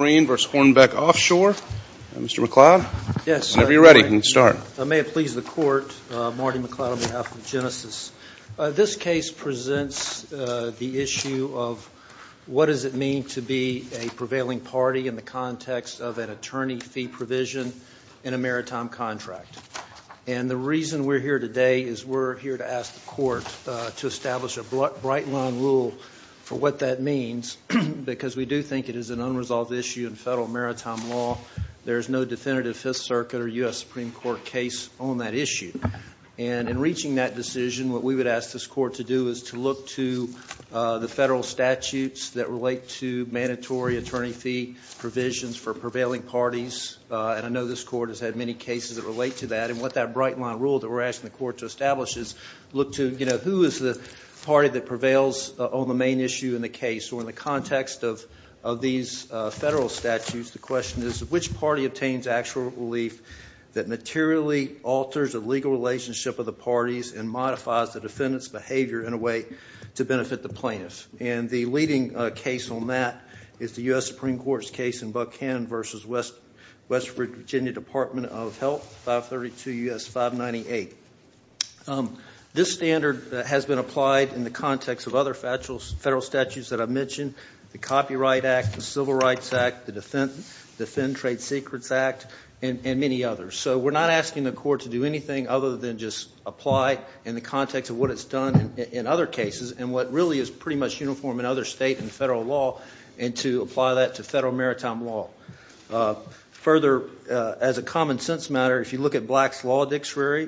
Marine v. Hornbeck Offshore. Mr. McLeod, whenever you're ready, you can start. This case presents the issue of what does it mean to be a prevailing party in the context of an attorney fee provision in a maritime contract. And the reason we're here today is we're here to ask the Court to establish a bright line rule for what that means, because we do think it is an unresolved issue in federal maritime law. There is no definitive Fifth Circuit or U.S. Supreme Court case on that issue. And in reaching that decision, what we would ask this Court to do is to look to the federal statutes that relate to mandatory attorney fee provisions for prevailing parties. And I know this Court has had many cases that relate to that. And what that bright line rule that we're asking the Court to establish is look to, you know, who is the party that prevails on the main issue in the case or in the context of these federal statutes. The question is which party obtains actual relief that materially alters the legal relationship of the parties and modifies the defendant's behavior in a way to benefit the plaintiff. And the leading case on that is the U.S. Supreme Court's case in Buckhannon v. West Virginia Department of Health, 532 U.S. 598. This standard has been applied in the context of other federal statutes that I mentioned, the Copyright Act, the Civil Rights Act, the Defend Trade Secrets Act, and many others. So we're not asking the Court to do anything other than just apply in the context of what it's done in other cases and what really is pretty much uniform in other state and federal law and to apply that to federal maritime law. Further, as a common sense matter, if you look at Black's Statute,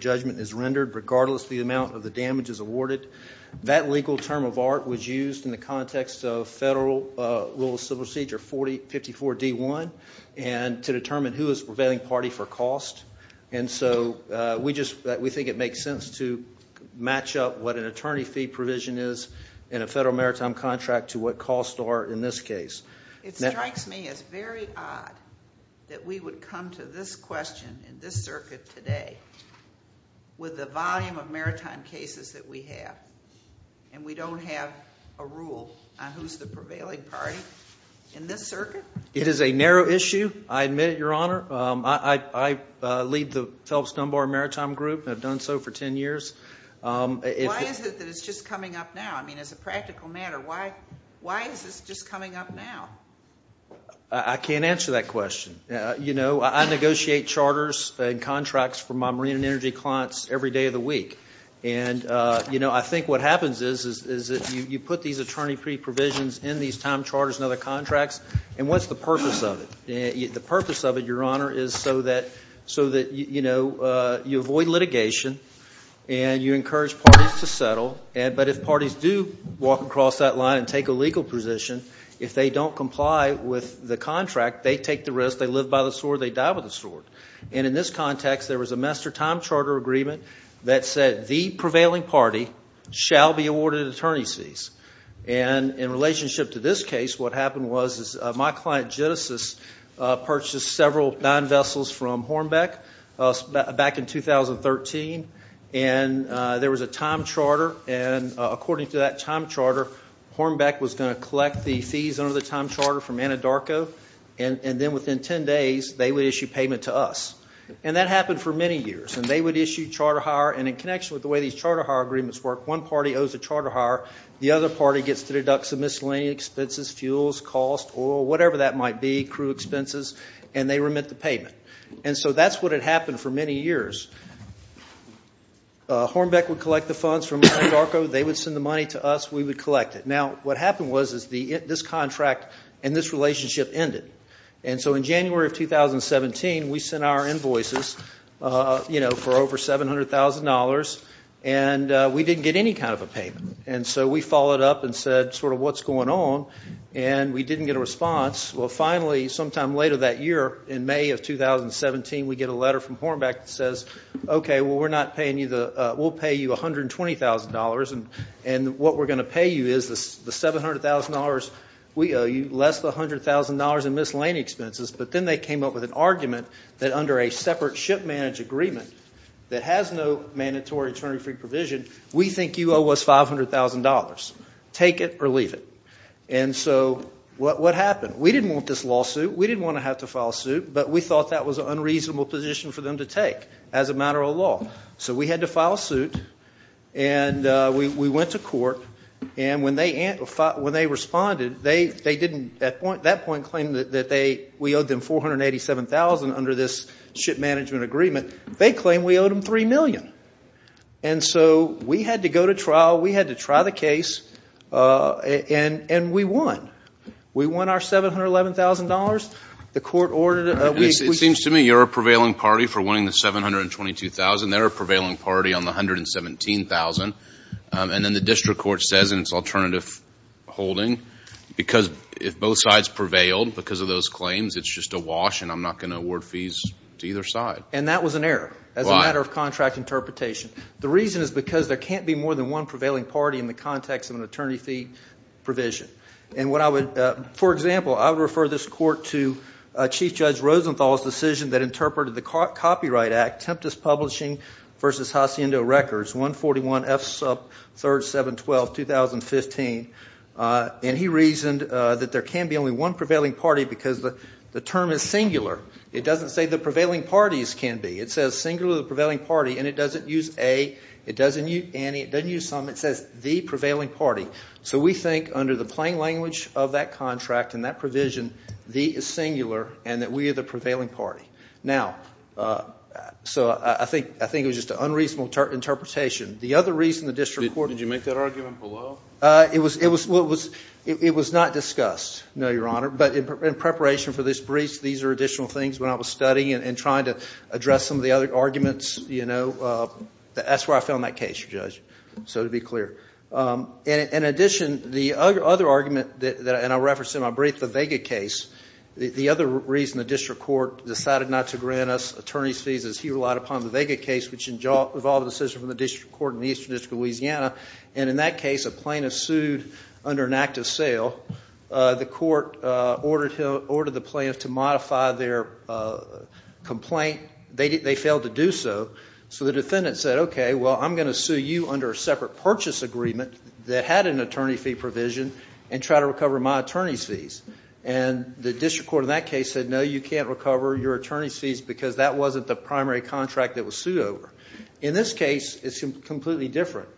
judgment is rendered regardless of the amount of the damages awarded. That legal term of art was used in the context of Federal Rule of Civil Procedure 50-4-D-1 and to determine who is prevailing party for cost. And so we just, we think it makes sense to match up what an attorney fee provision is in a federal maritime contract to what costs are in this case. It strikes me as very odd that we would come to this question in this circuit today with the volume of maritime cases that we have and we don't have a rule on who's the prevailing party in this circuit. It is a narrow issue. I admit it, Your Honor. I lead the Phelps Dunbar Maritime Group and have done so for 10 years. Why is it that it's just coming up now? I mean, as a practical matter, why is this just coming up now? I can't answer that question. You know, I negotiate charters and contracts for my marine and energy clients every day of the week. And, you know, I think what happens is that you put these attorney fee provisions in these time charters and other contracts and what's the purpose of it? The purpose of it, Your Honor, is so that, you know, you avoid litigation and you encourage parties to settle. But if parties do walk across that line and take a legal position, if they don't comply with the contract, they take the risk, they live by the sword, they die by the sword. And in this context, there was a master time charter agreement that said the prevailing party shall be awarded attorney fees. And in relationship to this case, what happened was my client Genesis purchased several non-vessels from Hornbeck back in 2013 and there was a time charter and according to that time charter, Hornbeck was going to collect the fees under the time charter from Anadarko and then within ten days they would issue payment to us. And that happened for many years. And they would issue charter hire and in connection with the way these charter hire agreements work, one party owes a charter hire, the other party gets to deduct some miscellaneous expenses, fuels, costs, oil, whatever that might be, crew expenses, and they remit the payment. And so that's what had happened for many years. Hornbeck would collect the funds from Anadarko, they would send the money to us, we would collect it. Now, what happened was this contract and this relationship ended. And so in January of 2017, we sent our invoices, you know, for over $700,000 and we didn't get any kind of a payment. And so we followed up and said sort of what's going on and we didn't get a response. Well, finally, sometime later that year in May of 2017, we get a letter from Hornbeck that says, okay, well, we're not paying you the, we'll pay you $120,000 and what we're going to pay you is the $700,000 we owe you less than $100,000 in miscellaneous expenses. But then they came up with an argument that under a separate ship manage agreement that has no mandatory attorney-free provision, we think you owe us $500,000. Take it or leave it. And so what happened? We didn't want this lawsuit. We didn't want to have to file suit. But we thought that was an unreasonable position for them to take as a matter of law. So we had to file suit and we went to court and when they responded, they didn't, at that point, claim that we owed them $487,000 under this ship management agreement. They claimed we owed them $3 million. And so we had to go to trial. We had to try the case and we won. We won our $711,000. The court ordered It seems to me you're a prevailing party for winning the $722,000. They're a prevailing party on the $117,000. And then the district court says in its alternative holding, because if both sides prevailed because of those claims, it's just a wash and I'm not going to award fees to either side. And that was an error. Why? As a matter of contract interpretation. The reason is because there can't be more than one prevailing party in the context of an attorney fee provision. And what I would, for example, I would refer this court to Chief Judge Rosenthal's decision that interpreted the Copyright Act, Tempest Publishing v. Hacienda Records 141F sub 3712, 2015. And he reasoned that there can be only one prevailing party because the term is singular. It doesn't say the prevailing parties can be. It says singular the prevailing party and it doesn't use a, it doesn't use any, it doesn't use some. It says the prevailing party. So we think under the plain language of that contract and that we are the prevailing party. Now, so I think, I think it was just an unreasonable interpretation. The other reason the district court. Did you make that argument below? It was, it was, it was not discussed. No, Your Honor. But in preparation for this brief, these are additional things when I was studying and trying to address some of the other arguments, you know, that's where I found that case, Judge. So to be clear. In addition, the other argument that, and I referenced in my brief, the Vega case. The other reason the district court decided not to grant us attorney's fees is he relied upon the Vega case, which involved a decision from the district court in the Eastern District of Louisiana. And in that case, a plaintiff sued under an act of sale. The court ordered the plaintiff to modify their complaint. They failed to do so. So the defendant said, okay, well, I'm going to sue you under a separate purchase agreement that had an attorney fee provision and try to recover my attorney's fees. And the district court in that case said, no, you can't recover your attorney's fees because that wasn't the primary contract that was sued over. In this case, it's completely different.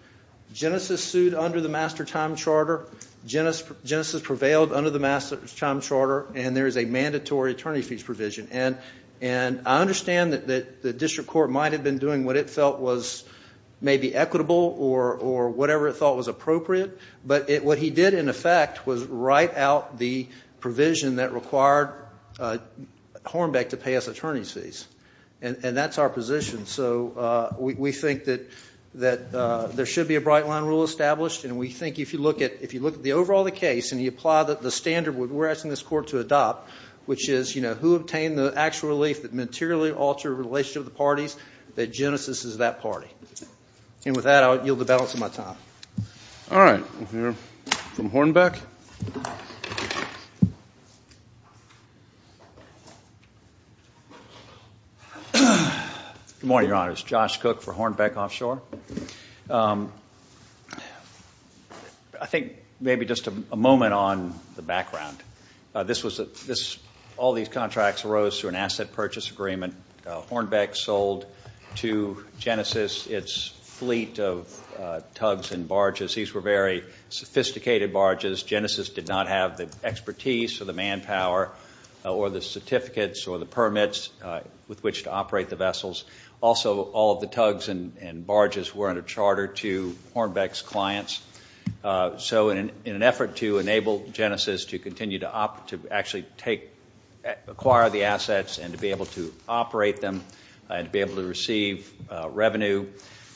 Genesis sued under the master time charter. Genesis prevailed under the master time charter. And there is a mandatory attorney fees provision. And, and I understand that the district court might have been doing what it felt was maybe equitable or whatever it thought was appropriate. But what he did, in effect, was write out the provision that required Hornbeck to pay us attorney's fees. And that's our position. So we think that there should be a bright line rule established. And we think if you look at the overall case and you apply the standard we're asking this court to adopt, which is, you know, who obtained the actual relief that materially altered the relationship of the parties, that Genesis is that party. And with that, I'll yield the balance of my time. All right. We'll hear from Hornbeck. Good morning, Your Honors. Josh Cook for Hornbeck Offshore. I think maybe just a moment on the close to an asset purchase agreement, Hornbeck sold to Genesis its fleet of tugs and barges. These were very sophisticated barges. Genesis did not have the expertise or the manpower or the certificates or the permits with which to operate the vessels. Also, all of the tugs and barges were under charter to Hornbeck's clients. So in an effort to enable Genesis to continue to actually acquire the assets and to be able to operate them and to be able to receive revenue,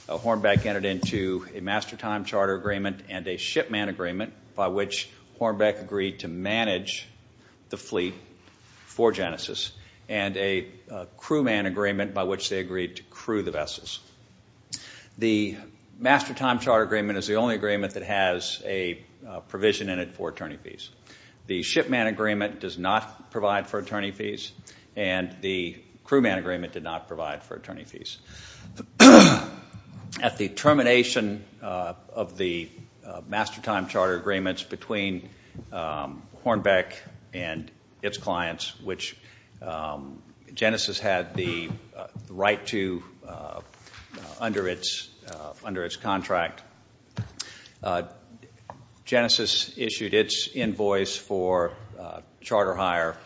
Hornbeck entered into a master time charter agreement and a shipman agreement by which Hornbeck agreed to manage the fleet for Genesis and a crewman agreement by which they agreed to crew the vessels. The master time charter agreement is the only agreement that has a provision in it for attorney fees. The shipman agreement does not provide for attorney fees and the crewman agreement did not provide for attorney fees. At the termination of the master time charter agreements between Hornbeck and its clients, which Genesis had the right to under its contract, Genesis issued its invoice for charter hire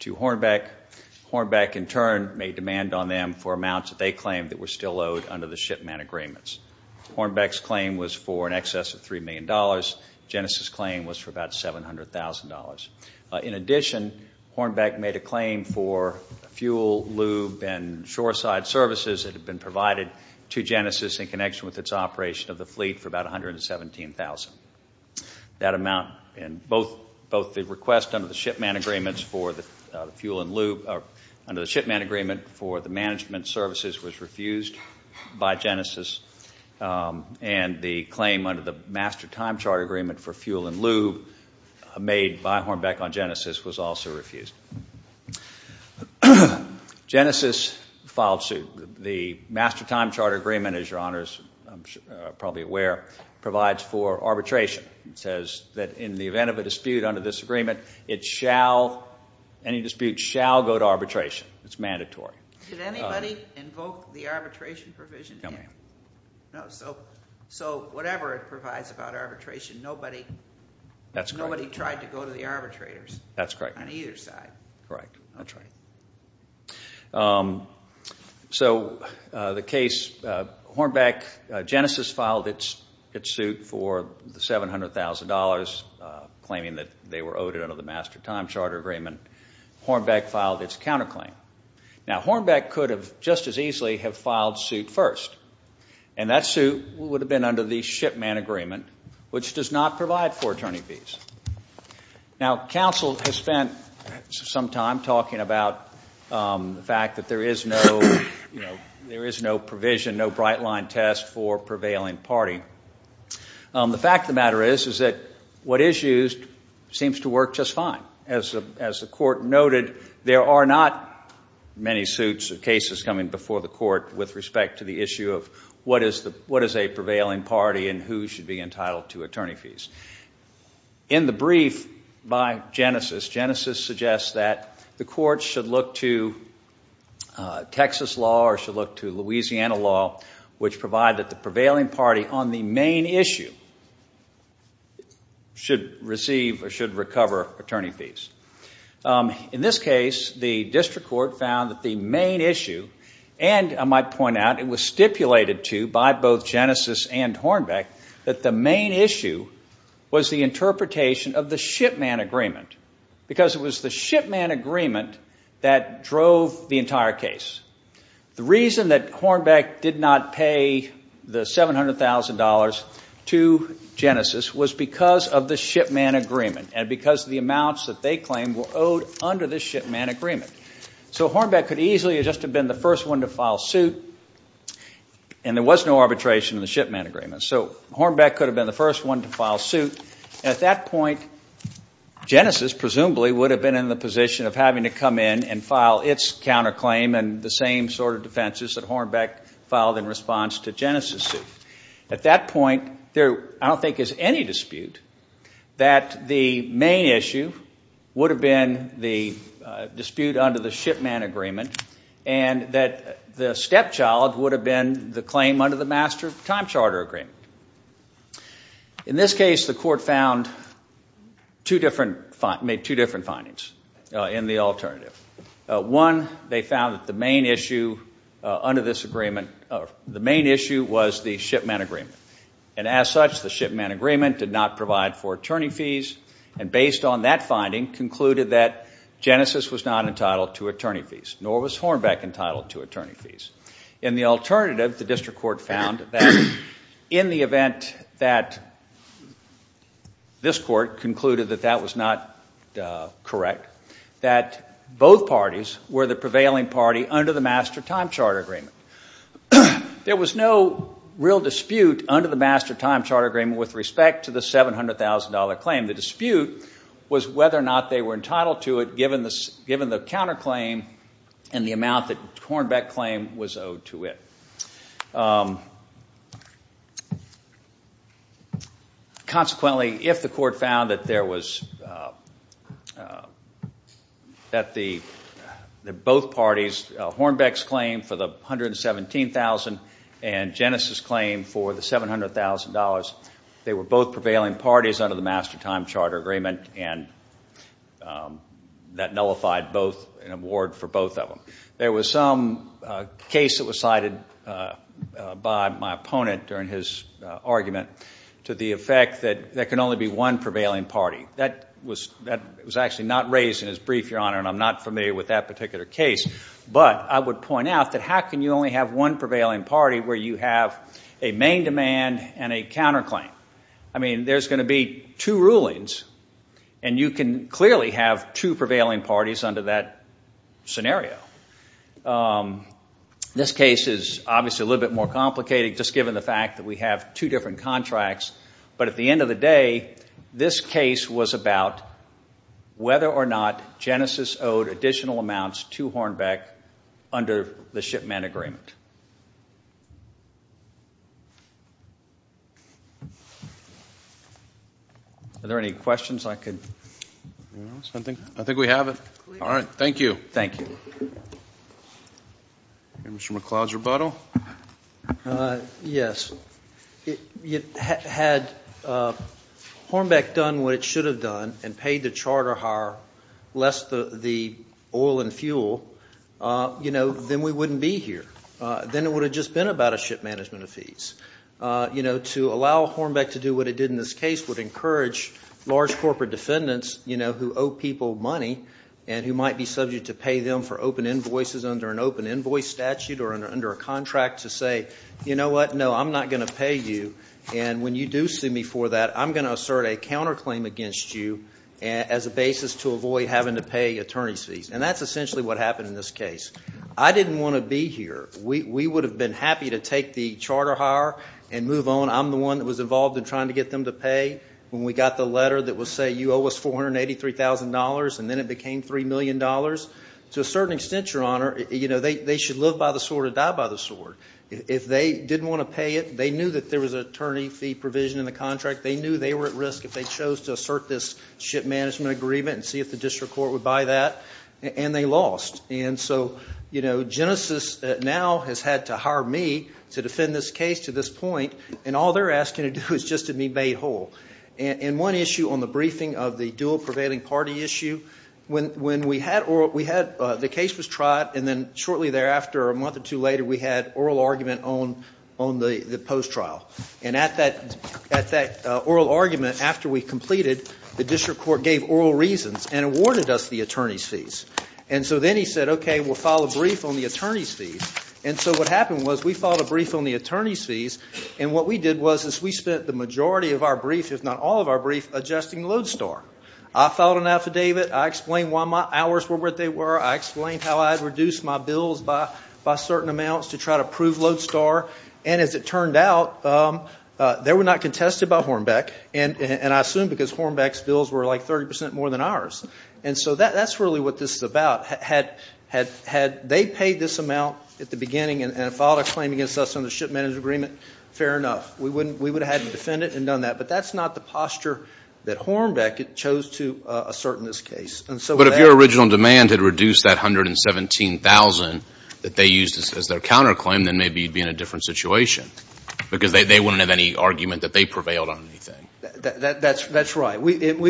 to Hornbeck. Hornbeck in turn made demand on them for amounts that they claimed that were still owed under the shipman agreements. Hornbeck's claim was for an excess of $3 million. Genesis' claim was for about $700,000. In addition, Hornbeck made a claim for fuel, lube, and shoreside services that had been provided to Genesis in connection with its operation of the fleet for about $117,000. That amount in both the request under the shipman agreement for the management services was refused by Genesis and the claim under the master time charter agreement for fuel and lube made by Hornbeck on Genesis was also refused. Genesis filed suit. The master time charter agreement, as your honors are probably aware, provides for arbitration. It says that in the event of a dispute under this agreement, it shall, any dispute shall go to arbitration. It's mandatory. Did anybody invoke the arbitration provision? No ma'am. So whatever it provides about arbitration, nobody tried to go to the arbitrators on either side. That's correct. So the case, Hornbeck, Genesis filed its suit for the $700,000 claiming that they were owed it under the master time charter agreement. Hornbeck filed its counterclaim. Now Hornbeck could have just as easily have filed suit first and that suit would have been under the shipman agreement, which does not provide for attorney fees. Now counsel has spent some time talking about the fact that there is no, you know, there is no provision, no bright line test for prevailing party. The fact of the matter is, is that what is used seems to work just fine. As the court noted, there are not many suits or cases coming before the court with respect to the issue of what is a prevailing party and who should be entitled to attorney fees. In the brief by Genesis, Genesis suggests that the court should look to Texas law or should look to Louisiana law, which provide that the prevailing party on the main issue should receive or should recover attorney fees. In this case, the district court found that the main issue, and I might point out, it was stipulated to by both Genesis and Hornbeck that the main issue was the interpretation of the shipman agreement because it was the shipman agreement that drove the entire case. The reason that Hornbeck did not pay the $700,000 to Genesis was because of the shipman agreement and because of the amounts that they claimed were owed under the shipman agreement. So Hornbeck could easily have just been the first one to file suit and there was no arbitration in the shipman agreement. So Hornbeck could have been the first one to file suit. At that point, Genesis presumably would have been in the position of having to come in and file its counterclaim and the same sort of defenses that Hornbeck filed in response to Genesis' suit. At that point, there I don't think is any dispute that the main issue would have been the dispute under the shipman agreement and that the stepchild would have been the claim under the master time charter agreement. In this case, the court found two different, made two different findings in the alternative. One, they found that the main issue under this agreement, the main issue was the shipman agreement and as such, the shipman agreement did not provide for attorney fees and based on that finding, concluded that Genesis was not entitled to attorney fees, nor was Hornbeck entitled to attorney fees. In the alternative, the district court found that in the event that this court concluded that that was not correct, that both parties were the prevailing party under the master time charter agreement. There was no real dispute under the master time charter agreement with respect to the $700,000 claim. The dispute was whether or not they were entitled to it given the counterclaim and the amount that Hornbeck claimed was owed to it. Consequently, if the court found that both parties, Hornbeck's claim for the $117,000 and Genesis' claim for the $700,000, they were both prevailing parties under the master time charter agreement and that nullified an award for both of them. There was some case that was cited by my opponent during his argument to the effect that there can only be one prevailing party. That was actually not raised in his brief, Your Honor, and I'm not familiar with that particular case, but I would point out that how can you only have one prevailing party where you have a main demand and a counterclaim? I mean, there's going to be two rulings and you can clearly have two prevailing parties under that scenario. This case is obviously a little bit more complicated just given the fact that we have two different contracts, but at the end of the day, this case was about whether or not Genesis owed additional amounts to Hornbeck under the shipment agreement. Are there any questions? I think we have it. All right. Thank you. Thank you. Mr. McCloud's rebuttal? Yes. Had Hornbeck done what it should have done and paid the about a ship management of fees. To allow Hornbeck to do what it did in this case would encourage large corporate defendants who owe people money and who might be subject to pay them for open invoices under an open invoice statute or under a contract to say, you know what, no, I'm not going to pay you, and when you do sue me for that, I'm going to assert a counterclaim against you as a basis to avoid having to pay attorney's fees. And that's we would have been happy to take the charter hire and move on. I'm the one that was involved in trying to get them to pay when we got the letter that would say you owe us $483,000 and then it became $3 million. To a certain extent, Your Honor, you know, they should live by the sword or die by the sword. If they didn't want to pay it, they knew that there was an attorney fee provision in the contract. They knew they were at risk if they chose to assert this ship management agreement and see if the district court would buy that, and they lost. And so, you know, Genesis now has had to hire me to defend this case to this point, and all they're asking to do is just to be made whole. In one issue on the briefing of the dual prevailing party issue, when we had oral, we had, the case was tried and then shortly thereafter, a month or two later, we had oral argument on the post trial. And at that oral argument, after we completed, the district court gave oral reasons and awarded us the attorney's fees. And so then he said, okay, we'll file a brief on the attorney's fees. And so what happened was we filed a brief on the attorney's fees, and what we did was is we spent the majority of our brief, if not all of our brief, adjusting Lodestar. I filed an affidavit. I explained why my hours were what they were. I explained how I reduced my bills by certain amounts to try to prove Lodestar. And as it turned out, they were not contested by Hornbeck, and I assume because Hornbeck's bills were like 30 percent more than ours. And so that's really what this is about. Had they paid this amount at the beginning and filed a claim against us on the ship manager agreement, fair enough. We would have had to defend it and done that. But that's not the posture that Hornbeck chose to assert in this case. And so that's what happened. But if your original demand had reduced that $117,000 that they used as their counterclaim, then maybe you'd be in a different situation. Because they wouldn't have any argument that they prevailed on anything. That's right. And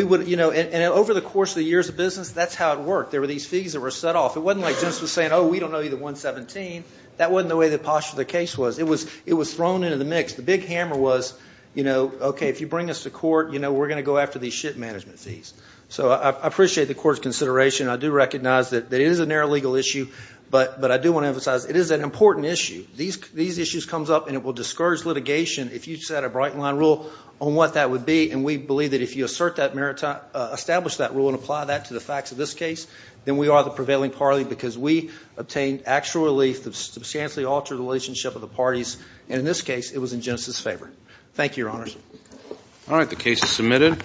over the course of the years of business, that's how it worked. There were these fees that were set off. It wasn't like just saying, oh, we don't owe you the $117,000. That wasn't the way the posture of the case was. It was thrown into the mix. The big hammer was, okay, if you bring us to court, we're going to go after these ship management fees. So I appreciate the court's consideration. I do recognize that it is a narrow legal issue. But I do want to emphasize, it is an important issue. These issues comes up, and it will be, and we believe that if you assert that maritime, establish that rule and apply that to the facts of this case, then we are the prevailing party. Because we obtained actual relief that substantially altered the relationship of the parties. And in this case, it was in Genesis' favor. Thank you, Your Honors. All right. The case is submitted.